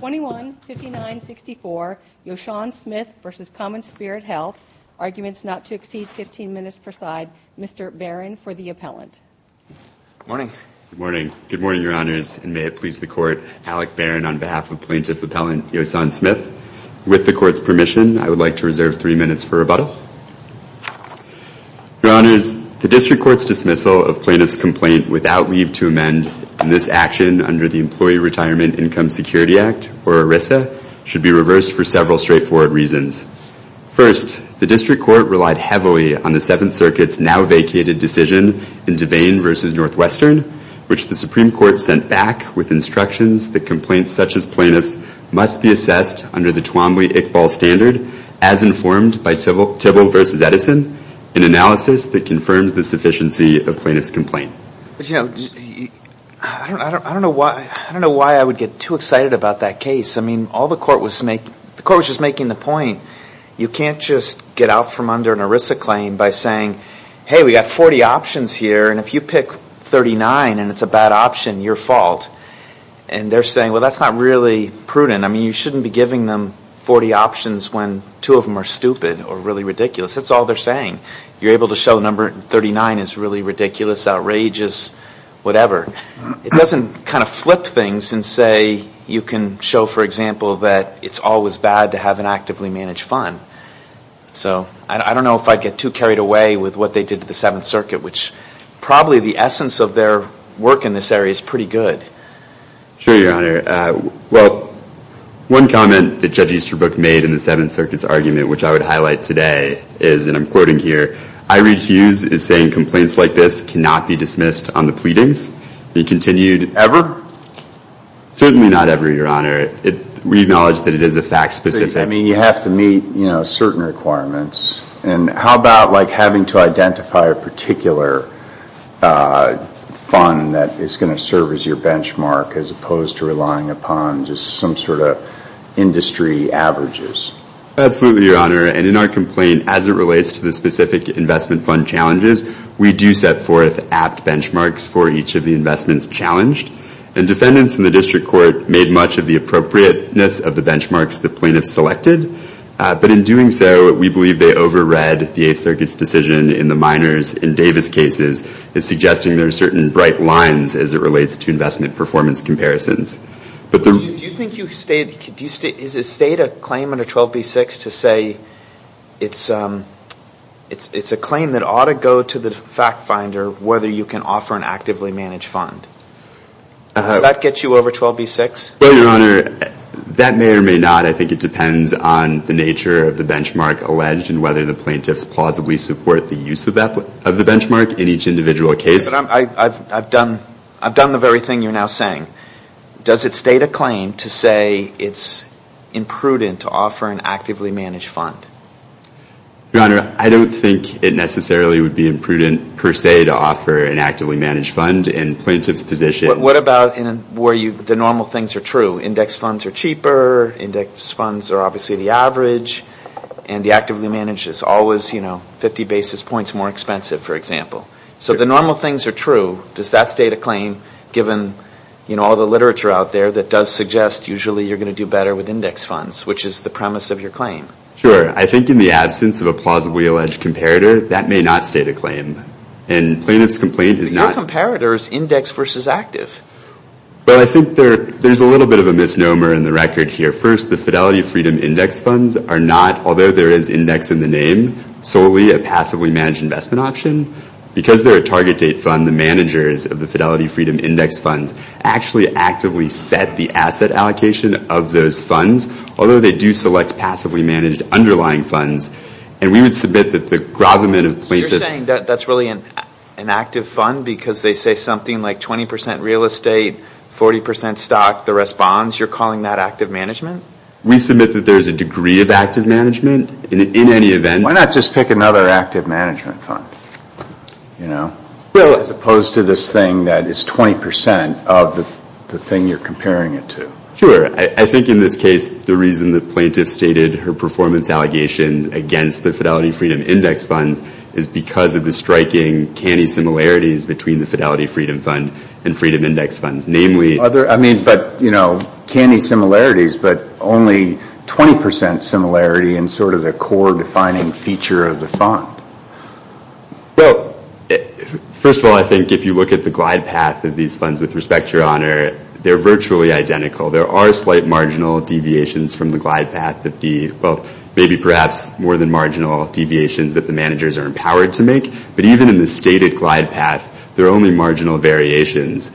21-5964, Yosaun Smith v. Commonspirit Health, Arguments Not to Exceed 15 Minutes per Side, Mr. Barron for the appellant. Good morning. Good morning. Good morning, Your Honors, and may it please the Court, Alec Barron on behalf of Plaintiff Appellant Yosaun Smith. With the Court's permission, I would like to reserve three minutes for rebuttal. Your Honors, the District Court's dismissal of Plaintiff's complaint without leave to should be reversed for several straightforward reasons. First, the District Court relied heavily on the Seventh Circuit's now-vacated decision in Devane v. Northwestern, which the Supreme Court sent back with instructions that complaints such as Plaintiff's must be assessed under the Twombly-Iqbal standard, as informed by Tibble v. Edison, an analysis that confirms the sufficiency of Plaintiff's complaint. I don't know why I would get too excited about that case. I mean, all the Court was making, the Court was just making the point, you can't just get out from under an ERISA claim by saying, hey, we got 40 options here, and if you pick 39 and it's a bad option, your fault. And they're saying, well, that's not really prudent. I mean, you shouldn't be giving them 40 options when two of them are stupid or really ridiculous. That's all they're saying. You're able to show number 39 is really ridiculous, outrageous, whatever. It doesn't kind of flip things and say you can show, for example, that it's always bad to have an actively managed fund. So I don't know if I'd get too carried away with what they did to the Seventh Circuit, which probably the essence of their work in this area is pretty good. Sure, Your Honor. Well, one comment that Judge Easterbrook made in the Seventh Circuit's argument, which I would highlight today, is, and I'm quoting here, I read Hughes is saying complaints like this cannot be dismissed on the pleadings. Be continued. Ever? Certainly not ever, Your Honor. We acknowledge that it is a fact-specific. But, I mean, you have to meet certain requirements. And how about having to identify a particular fund that is going to serve as your benchmark as opposed to relying upon just some sort of industry averages? Absolutely, Your Honor. And in our complaint, as it relates to the specific investment fund challenges, we do set forth apt benchmarks for each of the investments challenged. And defendants in the district court made much of the appropriateness of the benchmarks the plaintiffs selected. But in doing so, we believe they over-read the Eighth Circuit's decision in the minors in Davis cases as suggesting there are certain bright lines as it relates to investment performance comparisons. Do you think you state, is a state a claim under 12B6 to say it's a claim that ought to go to the fact finder whether you can offer an actively managed fund? Does that get you over 12B6? Well, Your Honor, that may or may not. I think it depends on the nature of the benchmark alleged and whether the plaintiffs plausibly support the use of the benchmark in each individual case. I've done the very thing you're now saying. Does it state a claim to say it's imprudent to offer an actively managed fund? Your Honor, I don't think it necessarily would be imprudent per se to offer an actively managed fund in plaintiff's position. What about where the normal things are true? Index funds are cheaper, index funds are obviously the average, and the actively managed is always 50 basis points more expensive, for example. So if the normal things are true, does that state a claim given all the literature out there that does suggest usually you're going to do better with index funds, which is the premise of your claim? Sure. I think in the absence of a plausibly alleged comparator, that may not state a claim. And plaintiff's complaint is not... But your comparator is index versus active. But I think there's a little bit of a misnomer in the record here. First, the Fidelity Freedom Index Funds are not, although there is index in the name, solely a passively managed investment option. Because they're a target date fund, the managers of the Fidelity Freedom Index Funds actually actively set the asset allocation of those funds, although they do select passively managed underlying funds. And we would submit that the gravamen of plaintiffs... So you're saying that that's really an active fund because they say something like 20% real estate, 40% stock, the rest bonds, you're calling that active management? We submit that there's a degree of active management in any event. Why not just pick another active management fund, as opposed to this thing that is 20% of the thing you're comparing it to? Sure. I think in this case, the reason that plaintiff stated her performance allegations against the Fidelity Freedom Index Funds is because of the striking canny similarities between the Fidelity Freedom Fund and Freedom Index Funds. Namely... Sure. I mean, but, you know, canny similarities, but only 20% similarity in sort of the core defining feature of the fund. Well, first of all, I think if you look at the glide path of these funds, with respect to your honor, they're virtually identical. There are slight marginal deviations from the glide path that the... Well, maybe perhaps more than marginal deviations that the managers are empowered to make. But even in the stated glide path, there are only marginal variations.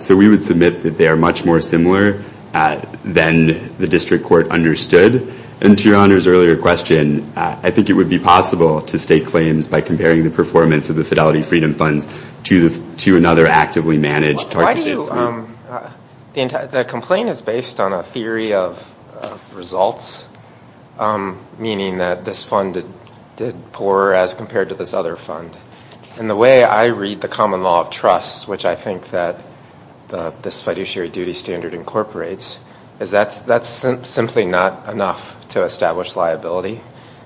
So we would submit that they are much more similar than the district court understood. And to your honor's earlier question, I think it would be possible to state claims by comparing the performance of the Fidelity Freedom Funds to another actively managed target investment. The complaint is based on a theory of results, meaning that this fund did poorer as compared to this other fund. And the way I read the common law of trust, which I think that this fiduciary duty standard incorporates, is that that's simply not enough to establish liability,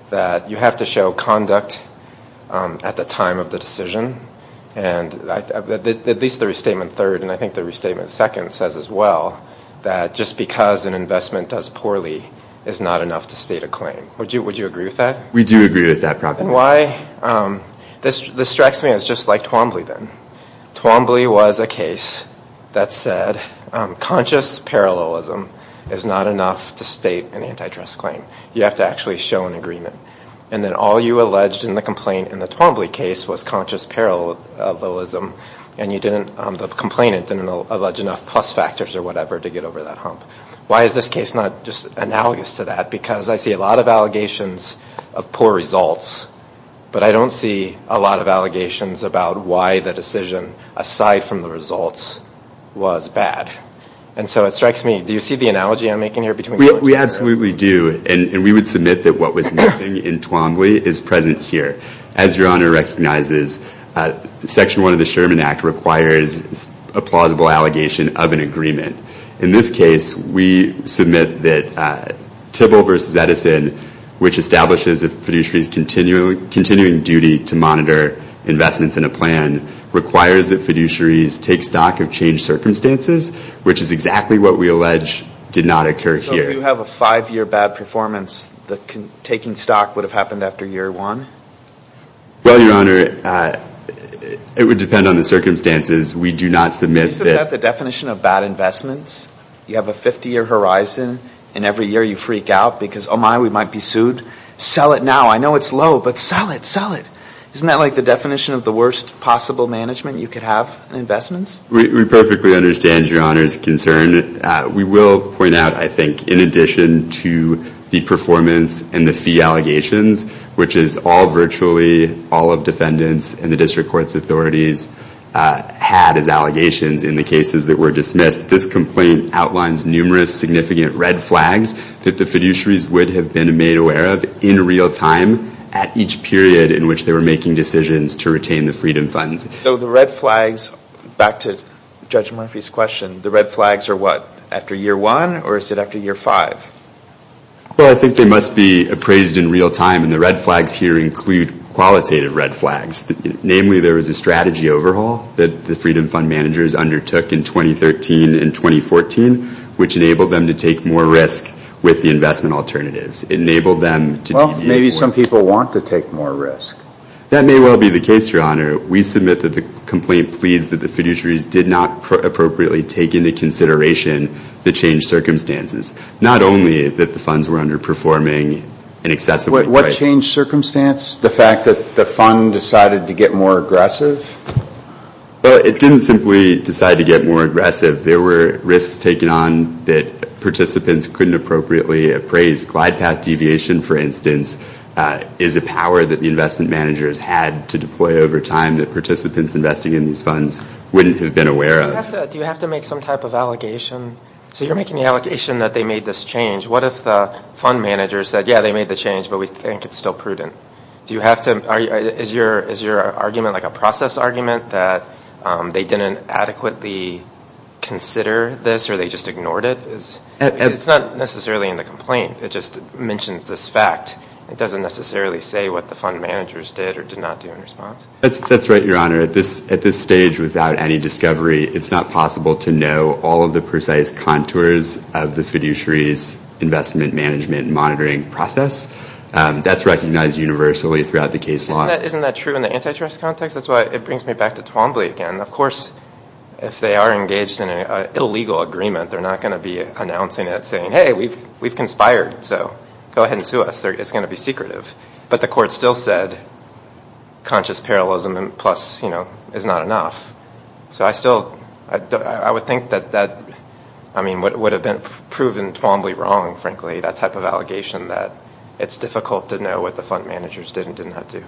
that you have to show conduct at the time of the decision. And at least the restatement third, and I think the restatement second says as well, that just because an investment does poorly is not enough to state a claim. Would you agree with that? We do agree with that proposition. Why? This strikes me as just like Twombly then. Twombly was a case that said conscious parallelism is not enough to state an antitrust claim. You have to actually show an agreement. And then all you alleged in the complaint in the Twombly case was conscious parallelism, and you didn't, the complainant didn't allege enough plus factors or whatever to get over that hump. Why is this case not just analogous to that? Because I see a lot of allegations of poor results, but I don't see a lot of allegations about why the decision, aside from the results, was bad. And so it strikes me, do you see the analogy I'm making here? We absolutely do, and we would submit that what was missing in Twombly is present here. As your Honor recognizes, Section 1 of the Sherman Act requires a plausible allegation of an agreement. In this case, we submit that Tibble v. Edison, which establishes a fiduciary's continuing duty to monitor investments in a plan, requires that fiduciaries take stock of changed circumstances, which is exactly what we allege did not occur here. So if you have a five-year bad performance, the taking stock would have happened after year one? Well, your Honor, it would depend on the circumstances. We do not submit that... You have a 50-year horizon, and every year you freak out because, oh my, we might be sued. Sell it now. I know it's low, but sell it. Sell it. Isn't that like the definition of the worst possible management you could have in investments? We perfectly understand your Honor's concern. We will point out, I think, in addition to the performance and the fee allegations, which is all virtually all of defendants and the district court's authorities had as allegations in the cases that were dismissed, this complaint outlines numerous significant red flags that the fiduciaries would have been made aware of in real time at each period in which they were making decisions to retain the Freedom Funds. So the red flags, back to Judge Murphy's question, the red flags are what? After year one, or is it after year five? Well, I think they must be appraised in real time, and the red flags here include qualitative red flags. Namely, there was a strategy overhaul that the Freedom Fund managers undertook in 2013 and 2014, which enabled them to take more risk with the investment alternatives. Enabled them to... Well, maybe some people want to take more risk. That may well be the case, Your Honor. We submit that the complaint pleads that the fiduciaries did not appropriately take into consideration the changed circumstances. Not only that the funds were underperforming in excess of... What changed circumstance? The fact that the fund decided to get more aggressive? Well, it didn't simply decide to get more aggressive. There were risks taken on that participants couldn't appropriately appraise. Glide path deviation, for instance, is a power that the investment managers had to deploy over time that participants investing in these funds wouldn't have been aware of. Do you have to make some type of allegation? So you're making the allegation that they made this change. What if the fund managers said, yeah, they made the change, but we think it's still prudent? Do you have to... Is your argument like a process argument that they didn't adequately consider this or they just ignored it? It's not necessarily in the complaint. It just mentions this fact. It doesn't necessarily say what the fund managers did or did not do in response. That's right, Your Honor. At this stage, without any discovery, it's not possible to know all of the precise contours of the fiduciary's investment management and monitoring process. That's recognized universally throughout the case law. Isn't that true in the antitrust context? That's why it brings me back to Twombly again. Of course, if they are engaged in an illegal agreement, they're not going to be announcing it saying, hey, we've conspired, so go ahead and sue us. It's going to be secretive. But the court still said conscious parallelism plus is not enough. I would think that would have been proven Twombly wrong, frankly, that type of allegation that it's difficult to know what the fund managers did and did not do.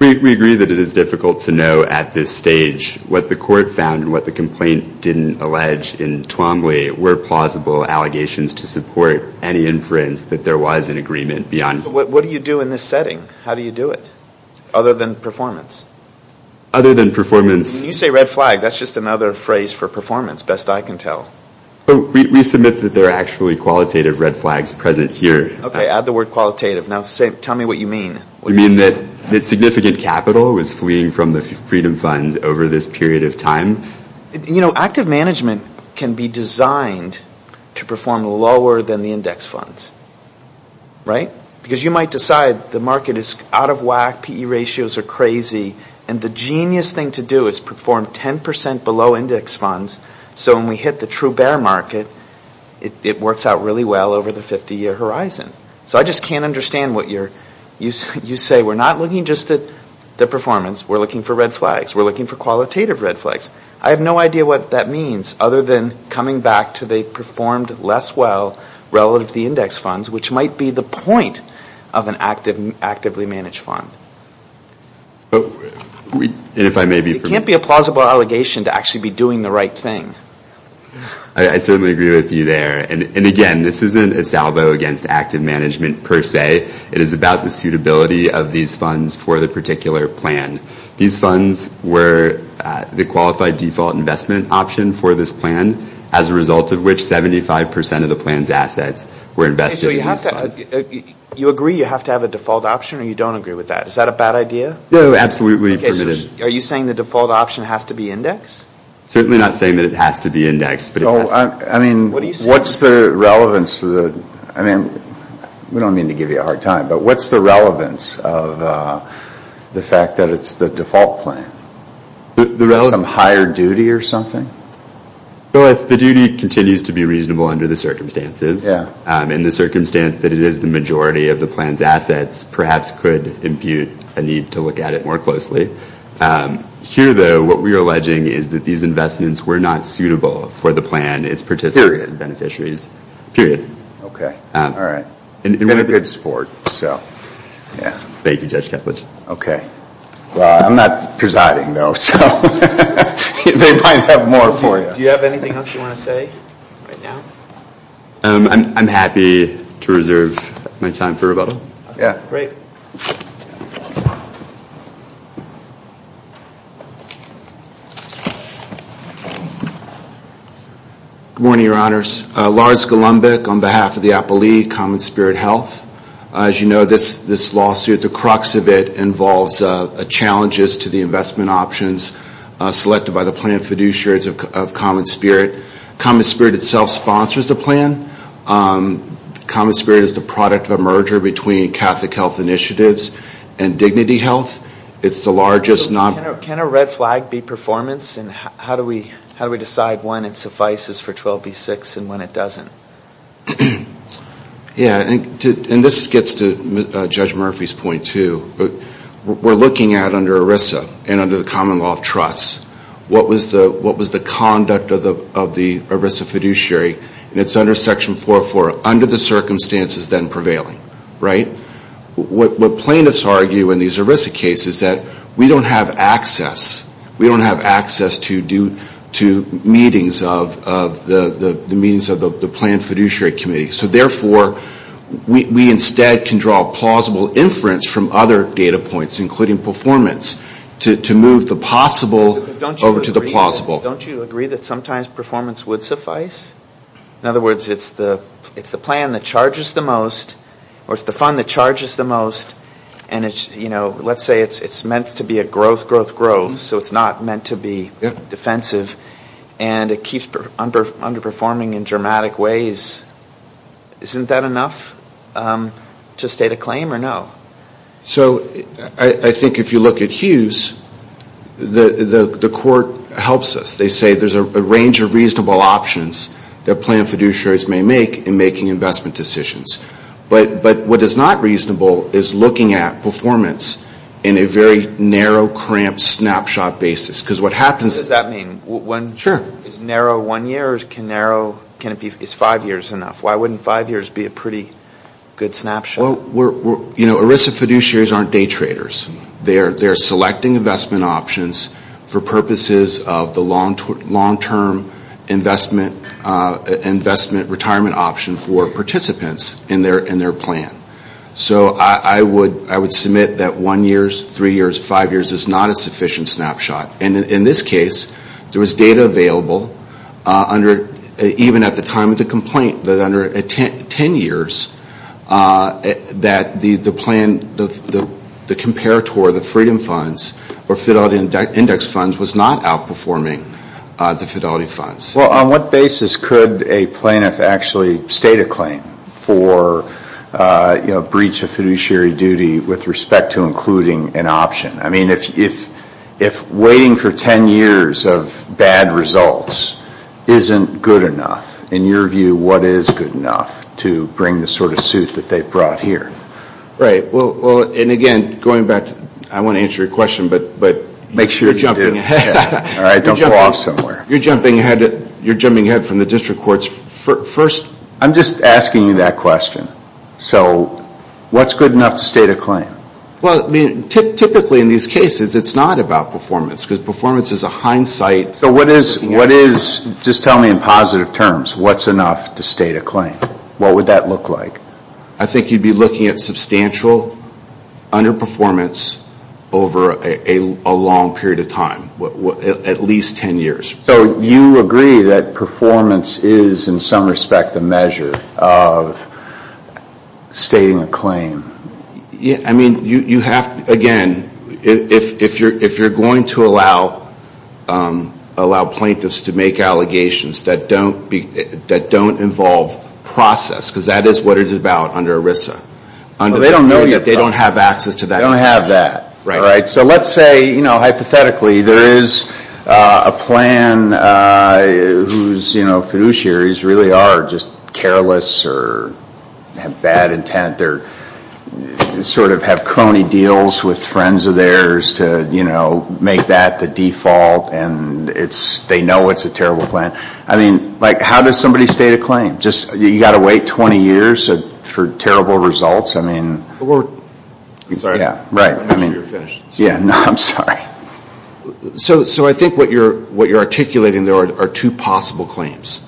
We agree that it is difficult to know at this stage what the court found and what the complaint didn't allege in Twombly were plausible allegations to support any inference that there was an agreement beyond... What do you do in this setting? How do you do it other than performance? Other than performance... When you say red flag, that's just another phrase for performance, best I can tell. We submit that there are actually qualitative red flags present here. Okay, add the word qualitative. Now, tell me what you mean. We mean that significant capital was fleeing from the Freedom Funds over this period of time. You know, active management can be designed to perform lower than the index funds, right? Because you might decide the market is out of whack, PE ratios are crazy, and the genius thing to do is perform 10% below index funds so when we hit the true bear market, it works out really well over the 50-year horizon. So I just can't understand what you're... You say we're not looking just at the performance, we're looking for red flags, we're looking for qualitative red flags. I have no idea what that means other than coming back to they performed less well relative to the index funds, which might be the point of an actively managed fund. It can't be a plausible allegation to actually be doing the right thing. I certainly agree with you there, and again, this isn't a salvo against active management per se. It is about the suitability of these funds for the particular plan. These funds were the qualified default investment option for this plan, as a result of which 75% of the plan's assets were invested in these funds. You agree you have to have a default option, or you don't agree with that? Is that a bad idea? No, absolutely permitted. Okay, so are you saying the default option has to be indexed? Certainly not saying that it has to be indexed, but it has to be. I mean, what's the relevance to the... I mean, we don't mean to give you a hard time, but what's the relevance of the fact that it's the default plan? Is there some higher duty or something? Well, if the duty continues to be reasonable under the circumstances, in the circumstance that it is the majority of the plan's assets, perhaps could impute a need to look at it more closely. Here, though, what we are alleging is that these investments were not suitable for the plan, its participants and beneficiaries, period. Okay, all right. We've got good support, so, yeah. Thank you, Judge Keplech. Okay. Well, I'm not presiding, though, so they might have more for you. Do you have anything else you want to say right now? I'm happy to reserve my time for rebuttal. Yeah, great. Good morning, Your Honors. Lars Golumbik on behalf of the Appellee Common Spirit Health. As you know, this lawsuit, the crux of it, involves challenges to the investment options selected by the plan fiduciaries of Common Spirit. Common Spirit itself sponsors the plan. Common Spirit is the product of a merger between Catholic Health Initiatives and Dignity Health. It's the largest non- Can a red flag be performance, and how do we decide when it suffices for 12B6 and when it doesn't? Yeah, and this gets to Judge Murphy's point, too. We're looking at, under ERISA and under the Common Law of Trusts, what was the conduct of the ERISA fiduciary, and it's under Section 404, under the circumstances then prevailing, right? What plaintiffs argue in these ERISA cases is that we don't have access. We don't have access to meetings of the plan fiduciary committee, so therefore, we instead can draw plausible inference from other data points, including performance, to move the possible over to the plausible. Don't you agree that sometimes performance would suffice? In other words, it's the plan that charges the most, or it's the fund that charges the most, so it's not meant to be defensive, and it keeps underperforming in dramatic ways. Isn't that enough to state a claim, or no? I think if you look at Hughes, the court helps us. They say there's a range of reasonable options that plan fiduciaries may make in making investment decisions, but what is not reasonable is looking at performance in a very narrow, cramped snapshot basis. Because what happens... What does that mean? Sure. Is narrow one year, or can it be five years enough? Why wouldn't five years be a pretty good snapshot? You know, ERISA fiduciaries aren't day traders. They're selecting investment options for purposes of the long-term investment retirement option for participants in their plan. So I would submit that one year, three years, five years is not a sufficient snapshot. And in this case, there was data available, even at the time of the complaint, that under 10 years, that the plan, the comparator, the Freedom Funds, or Fidelity Index Funds was not outperforming the Fidelity Funds. Well, on what basis could a plaintiff actually state a claim for breach of fiduciary duty with respect to including an option? I mean, if waiting for 10 years of bad results isn't good enough, in your view, what is good enough to bring the sort of suit that they've brought here? Right. Well, and again, going back to... I want to answer your question, but... Make sure you do. You're jumping ahead. All right, don't fall off somewhere. You're jumping ahead from the district courts. First... I'm just asking you that question. So what's good enough to state a claim? Well, I mean, typically in these cases, it's not about performance, because performance is a hindsight... So what is, just tell me in positive terms, what's enough to state a claim? What would that look like? I think you'd be looking at substantial underperformance over a long period of time, at least 10 years. So you agree that performance is, in some respect, a measure of stating a claim? Yeah. I mean, you have, again, if you're going to allow plaintiffs to make allegations that don't involve process, because that is what it's about under ERISA, they don't have access to that information. They don't have that. Right. So let's say, hypothetically, there is a plan whose fiduciaries really are just careless or have bad intent, or sort of have crony deals with friends of theirs to make that the default, and they know it's a terrible plan. I mean, how does somebody state a claim? You've got to wait 20 years for terrible results? I mean... Sorry. Yeah, right. You're finished. Yeah, I'm sorry. So I think what you're articulating there are two possible claims.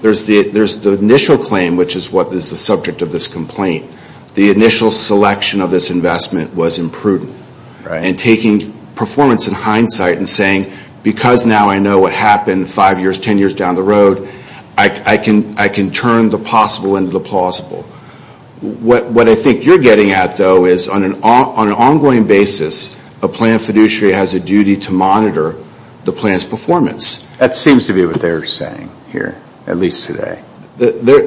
There's the initial claim, which is what is the subject of this complaint. The initial selection of this investment was imprudent, and taking performance in hindsight and saying, because now I know what happened 5 years, 10 years down the road, I can turn the possible into the plausible. What I think you're getting at, though, is on an ongoing basis, a plan fiduciary has a duty to monitor the plan's performance. That seems to be what they're saying here, at least today. The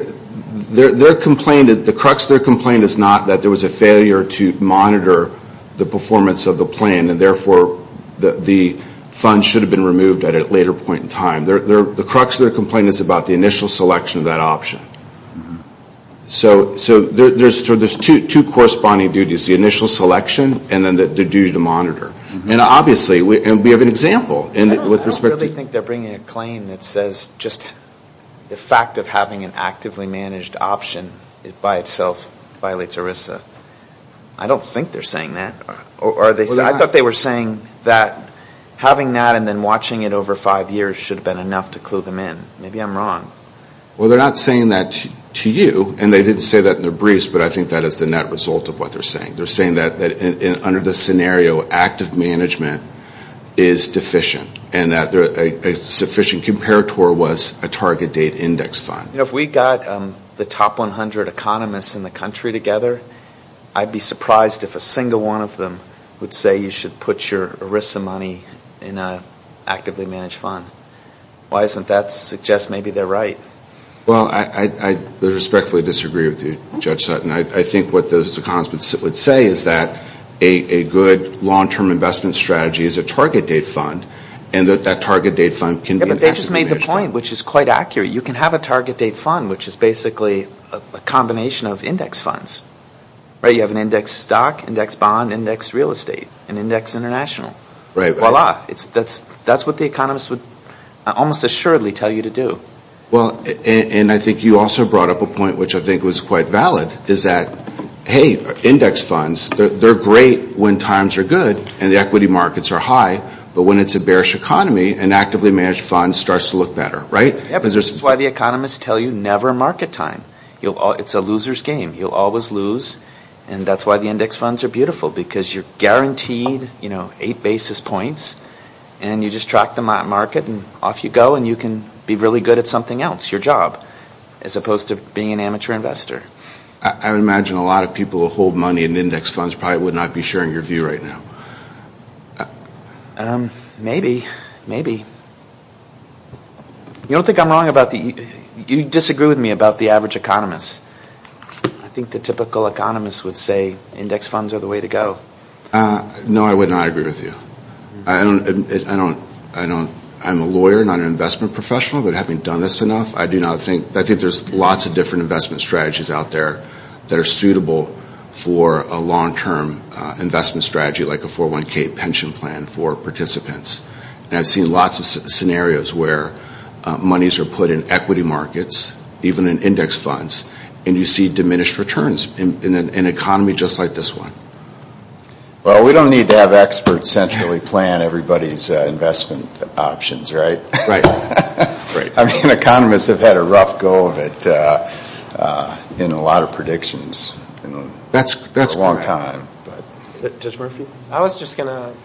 crux of their complaint is not that there was a failure to monitor the performance of the plan, and therefore the fund should have been removed at a later point in time. The crux of their complaint is about the initial selection of that option. So there's two corresponding duties, the initial selection and then the duty to monitor. And obviously, we have an example with respect to... I don't really think they're bringing a claim that says just the fact of having an actively managed option by itself violates ERISA. I don't think they're saying that. I thought they were saying that having that and then watching it over 5 years should have been enough to clue them in. Maybe I'm wrong. Well, they're not saying that to you, and they didn't say that in their briefs, but I think that is the net result of what they're saying. They're saying that under this scenario, active management is deficient and that a sufficient comparator was a target date index fund. If we got the top 100 economists in the country together, I'd be surprised if a single one of them would say you should put your ERISA money in an actively managed fund. Why doesn't that suggest maybe they're right? Well, I respectfully disagree with you, Judge Sutton. I think what those economists would say is that a good long-term investment strategy is a target date fund, and that that target date fund can be... Yeah, but they just made the point, which is quite accurate. You can have a target date fund, which is basically a combination of index funds. You have an index stock, index bond, index real estate, and index international. Voila. That's what the economists would almost assuredly tell you to do. Well, and I think you also brought up a point, which I think was quite valid, is that, hey, index funds, they're great when times are good and the equity markets are high, but when it's a bearish economy, an actively managed fund starts to look better, right? Yeah, because that's why the economists tell you never market time. It's a loser's game. You'll always lose, and that's why the index funds are beautiful, because you're guaranteed eight basis points, and you just track the market, and off you go, and you can be really good at something else, your job, as opposed to being an amateur investor. I would imagine a lot of people who hold money in index funds probably would not be sharing your view right now. Maybe, maybe. You don't think I'm wrong about the... You disagree with me about the average economist. I think the typical economist would say index funds are the way to go. No, I would not agree with you. I don't... I'm a lawyer, not an investment professional, but having done this enough, I do not think... I think there's lots of different investment strategies out there that are suitable for a long-term investment strategy like a 401k pension plan for participants. And I've seen lots of scenarios where monies are put in equity markets, even in index funds, and you see diminished returns in an economy just like this one. Well, we don't need to have experts centrally plan everybody's investment options, right? Right. I mean, economists have had a rough go of it in a lot of predictions. That's a long time. Judge Murphy? I was just going to...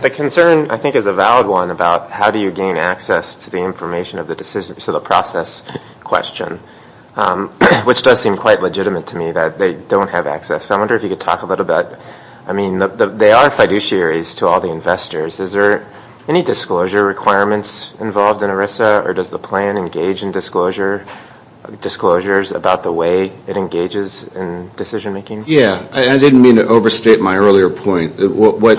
The concern, I think, is a valid one about how do you gain access to the information of the process question, which does seem quite legitimate to me that they don't have access. I wonder if you could talk a little bit about... I mean, they are fiduciaries to all the investors. Is there any disclosure requirements involved in ERISA, or does the plan engage in disclosures about the way it engages in decision-making? Yeah. I didn't mean to overstate my earlier point. What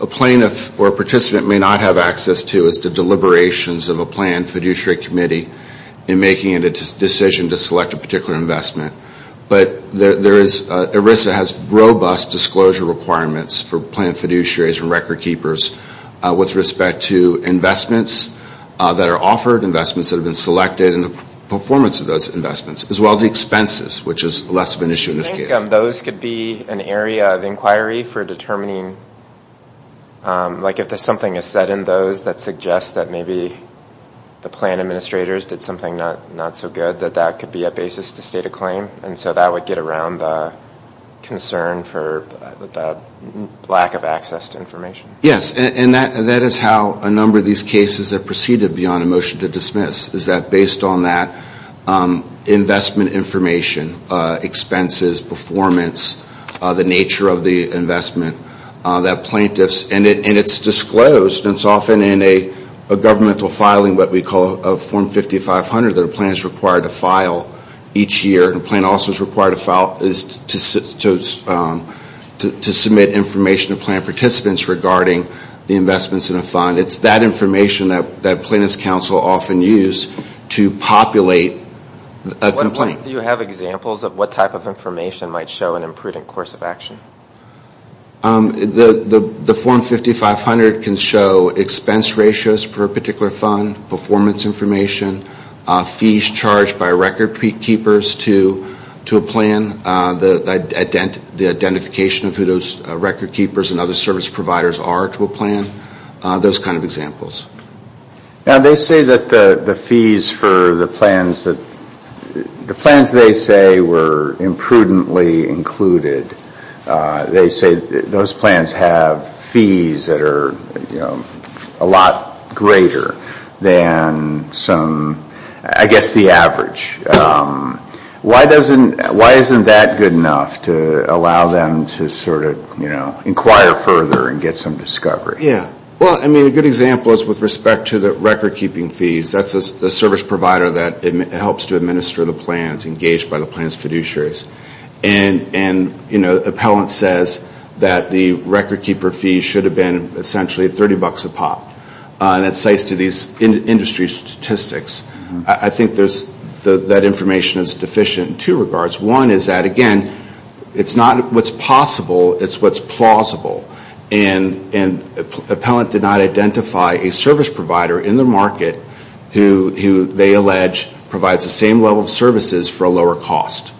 a plaintiff or a participant may not have access to is the deliberations of a planned fiduciary committee in making a decision to select a particular investment. But ERISA has robust disclosure requirements for planned fiduciaries and record keepers with respect to investments that are offered, investments that have been selected, and the performance of those investments, as well as the expenses, which is less of an issue in this case. I think those could be an area of inquiry for determining, like, if something is said in those that suggests that maybe the plan administrators did something not so good, that that could be a basis to state a claim. And so that would get around the concern for the lack of access to information. Yes. And that is how a number of these cases are preceded beyond a motion to dismiss, is that based on that investment information, expenses, performance, the nature of the investment, that plaintiffs, and it's disclosed. It's often in a governmental filing, what we call a Form 5500, that a plan is required to file each year. A plan also is required to submit information to plan participants regarding the investments in a fund. It's that information that plaintiffs' counsel often use to populate a complaint. Do you have examples of what type of information might show an imprudent course of action? The Form 5500 can show expense ratios for a particular fund, performance information, fees charged by record keepers to a plan, the identification of who those record keepers and other service providers are to a plan, those kind of examples. They say that the fees for the plans that, the plans they say were imprudently included, they say those plans have fees that are, you know, a lot greater than some, I guess the average. Why doesn't, why isn't that good enough to allow them to sort of, you know, inquire further and get some discovery? Yeah, well, I mean, a good example is with respect to the record keeping fees. That's the service provider that helps to administer the plans, engaged by the plan's fiduciaries. And, you know, the appellant says that the record keeper fee should have been essentially 30 bucks a pop. And it cites to these industry statistics. I think there's, that information is deficient in two regards. One is that, again, it's not what's possible, it's what's plausible. And appellant did not identify a service provider in the market who they allege provides the same level of services for a lower cost.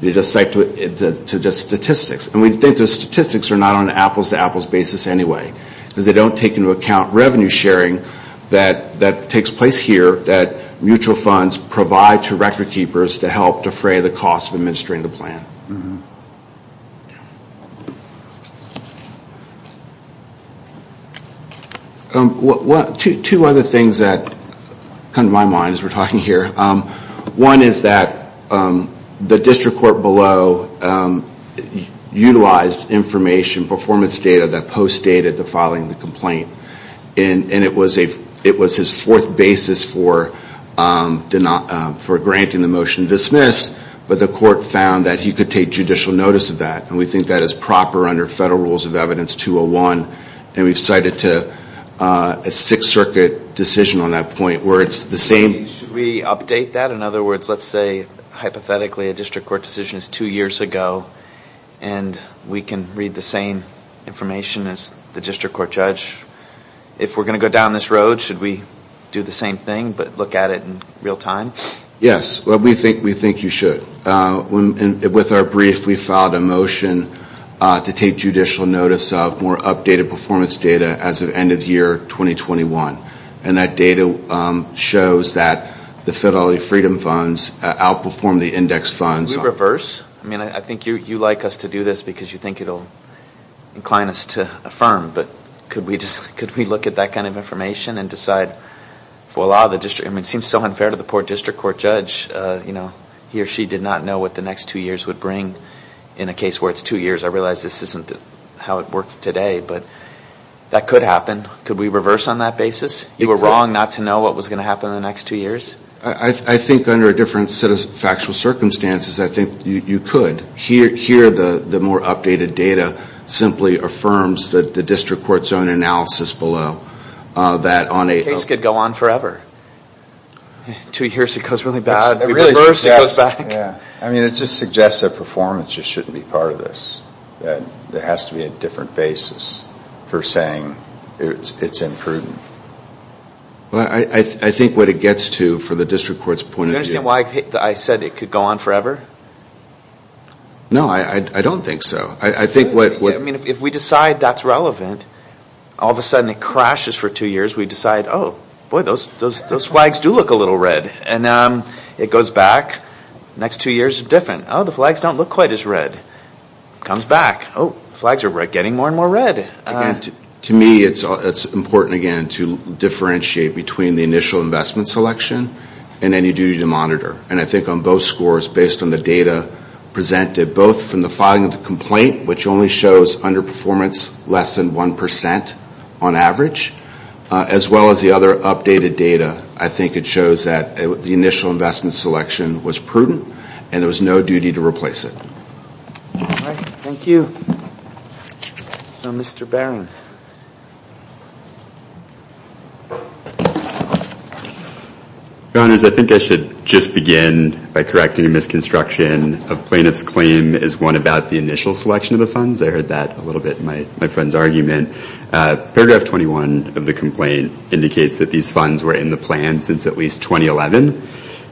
They just cite to just statistics. And we think those statistics are not on an apples to apples basis anyway. Because they don't take into account revenue sharing that takes place here, that mutual funds provide to record keepers to help defray the cost of administering the plan. Two other things that come to my mind as we're talking here. One is that the district court below utilized information, performance data that post dated the filing of the complaint. And it was his fourth basis for granting the motion to dismiss. But the court found that he could take judicial notice of that. And we think that is proper under Federal Rules of Evidence 201. And we've cited to a Sixth Circuit decision on that point where it's the same. Should we update that? In other words, let's say hypothetically a district court decision is two years ago. And we can read the same information as the district court judge. If we're going to go down this road, should we do the same thing but look at it in real time? Yes. We think you should. With our brief, we filed a motion to take judicial notice of more updated performance data as of end of year 2021. And that data shows that the Fidelity Freedom Funds outperformed the index funds. Should we reverse? I mean, I think you like us to do this because you think it will incline us to affirm. But could we look at that kind of information and decide, well, it seems so unfair to the poor district court judge. You know, he or she did not know what the next two years would bring. In a case where it's two years, I realize this isn't how it works today. But that could happen. Could we reverse on that basis? You were wrong not to know what was going to happen in the next two years? I think under a different set of factual circumstances, I think you could. Here, the more updated data simply affirms that the district court's own analysis below. The case could go on forever. Two years, it goes really bad. We reverse, it goes back. I mean, it just suggests that performance just shouldn't be part of this. There has to be a different basis for saying it's imprudent. I think what it gets to for the district court's point of view. Do you understand why I said it could go on forever? No, I don't think so. I mean, if we decide that's relevant, all of a sudden it crashes for two years. We decide, oh, boy, those flags do look a little red. And it goes back. The next two years are different. Oh, the flags don't look quite as red. It comes back. Oh, the flags are getting more and more red. To me, it's important, again, to differentiate between the initial investment selection and any duty to monitor. And I think on both scores, based on the data presented, both from the filing of the complaint, which only shows underperformance less than 1% on average, as well as the other updated data, I think it shows that the initial investment selection was prudent and there was no duty to replace it. All right. Thank you. So Mr. Barron. Your Honors, I think I should just begin by correcting a misconstruction of plaintiff's claim as one about the initial selection of the funds. Paragraph 21 of the complaint indicates that these funds were in the plan since at least 2011.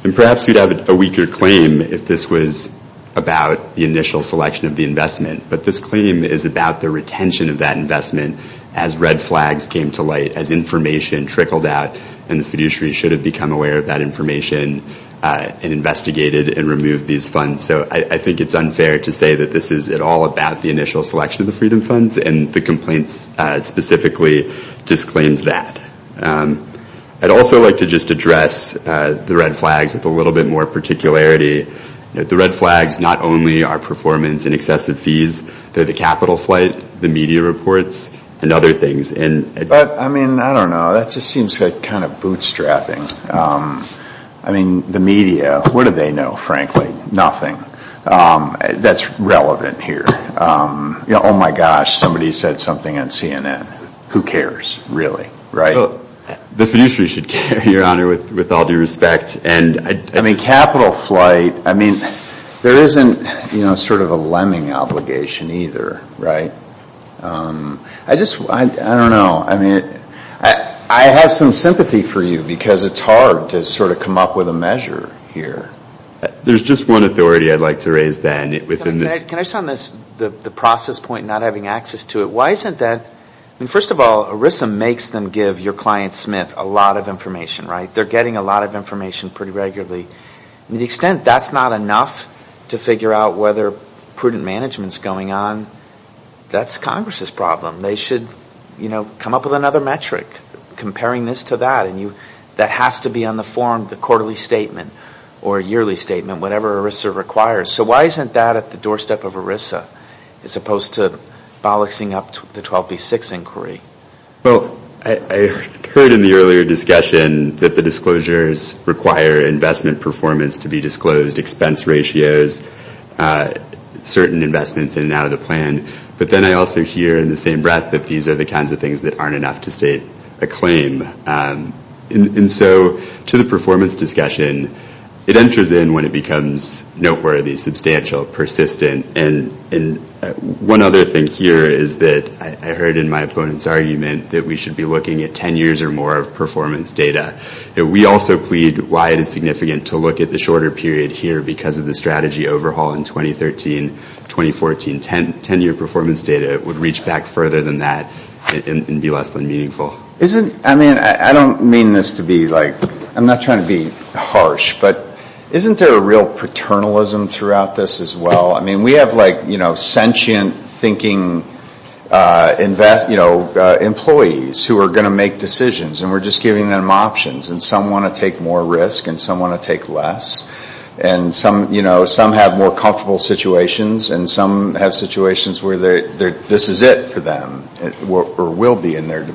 And perhaps we'd have a weaker claim if this was about the initial selection of the investment. But this claim is about the retention of that investment as red flags came to light, as information trickled out, and the fiduciary should have become aware of that information and investigated and removed these funds. So I think it's unfair to say that this is at all about the initial selection of the Freedom Funds and the complaint specifically disclaims that. I'd also like to just address the red flags with a little bit more particularity. The red flags not only are performance and excessive fees, they're the capital flight, the media reports, and other things. But, I mean, I don't know. That just seems kind of bootstrapping. I mean, the media, what do they know, frankly? Nothing that's relevant here. Oh, my gosh, somebody said something on CNN. Who cares, really, right? The fiduciary should care, Your Honor, with all due respect. I mean, capital flight, I mean, there isn't sort of a lemming obligation either, right? I just, I don't know. I mean, I have some sympathy for you because it's hard to sort of come up with a measure here. There's just one authority I'd like to raise then. Can I just, on the process point, not having access to it, why isn't that? I mean, first of all, ERISA makes them give your client, Smith, a lot of information, right? They're getting a lot of information pretty regularly. I mean, to the extent that's not enough to figure out whether prudent management is going on, that's Congress' problem. They should, you know, come up with another metric comparing this to that. And that has to be on the form of the quarterly statement or yearly statement, whatever ERISA requires. So why isn't that at the doorstep of ERISA as opposed to bolloxing up the 12B6 inquiry? Well, I heard in the earlier discussion that the disclosures require investment performance to be disclosed, expense ratios, certain investments in and out of the plan. But then I also hear in the same breath that these are the kinds of things that aren't enough to state a claim. And so to the performance discussion, it enters in when it becomes noteworthy, substantial, persistent. And one other thing here is that I heard in my opponent's argument that we should be looking at 10 years or more of performance data. We also plead wide and significant to look at the shorter period here because of the strategy overhaul in 2013, 2014. Ten-year performance data would reach back further than that and be less than meaningful. Isn't, I mean, I don't mean this to be like, I'm not trying to be harsh, but isn't there a real paternalism throughout this as well? I mean, we have like, you know, sentient thinking, you know, employees who are going to make decisions. And we're just giving them options. And some want to take more risk and some want to take less. And some, you know, some have more comfortable situations. And some have situations where this is it for them or will be in their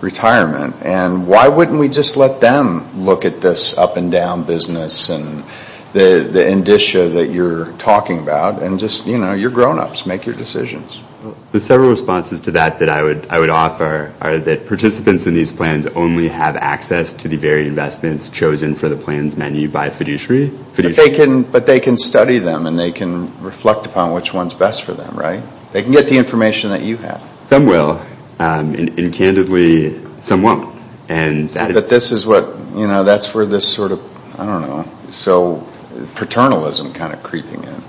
retirement. And why wouldn't we just let them look at this up and down business and the indicia that you're talking about? And just, you know, you're grownups. Make your decisions. The several responses to that that I would offer are that participants in these plans only have access to the varied investments chosen for the plans menu by fiduciary. But they can study them and they can reflect upon which one's best for them, right? They can get the information that you have. Some will. And candidly, some won't. But this is what, you know, that's where this sort of, I don't know, so paternalism kind of creeping in.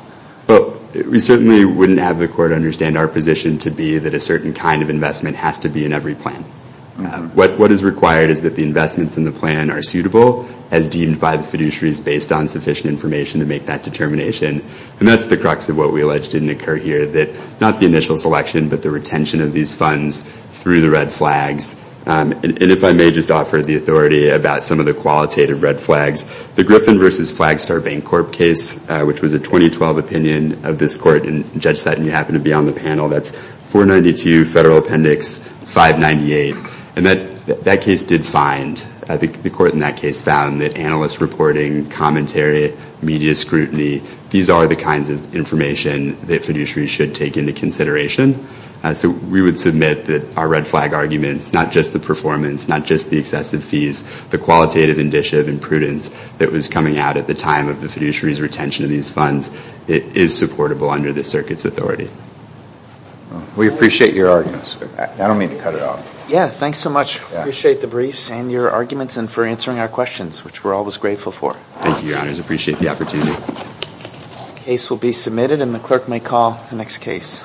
But we certainly wouldn't have the court understand our position to be that a certain kind of investment has to be in every plan. What is required is that the investments in the plan are suitable as deemed by the fiduciaries based on sufficient information to make that determination. And that's the crux of what we alleged didn't occur here, that not the initial selection but the retention of these funds through the red flags. And if I may just offer the authority about some of the qualitative red flags, the Griffin v. Flagstar Bank Corp case, which was a 2012 opinion of this court, and Judge Sutton, you happen to be on the panel. That's 492 Federal Appendix 598. And that case did find, the court in that case found that analyst reporting, commentary, media scrutiny, these are the kinds of information that fiduciaries should take into consideration. So we would submit that our red flag arguments, not just the performance, not just the excessive fees, the qualitative initiative and prudence that was coming out at the time of the fiduciary's retention of these funds, it is supportable under the circuit's authority. We appreciate your arguments. I don't mean to cut it off. Yeah, thanks so much. Appreciate the briefs and your arguments and for answering our questions, which we're always grateful for. Thank you, Your Honors. Appreciate the opportunity. The case will be submitted and the clerk may call the next case.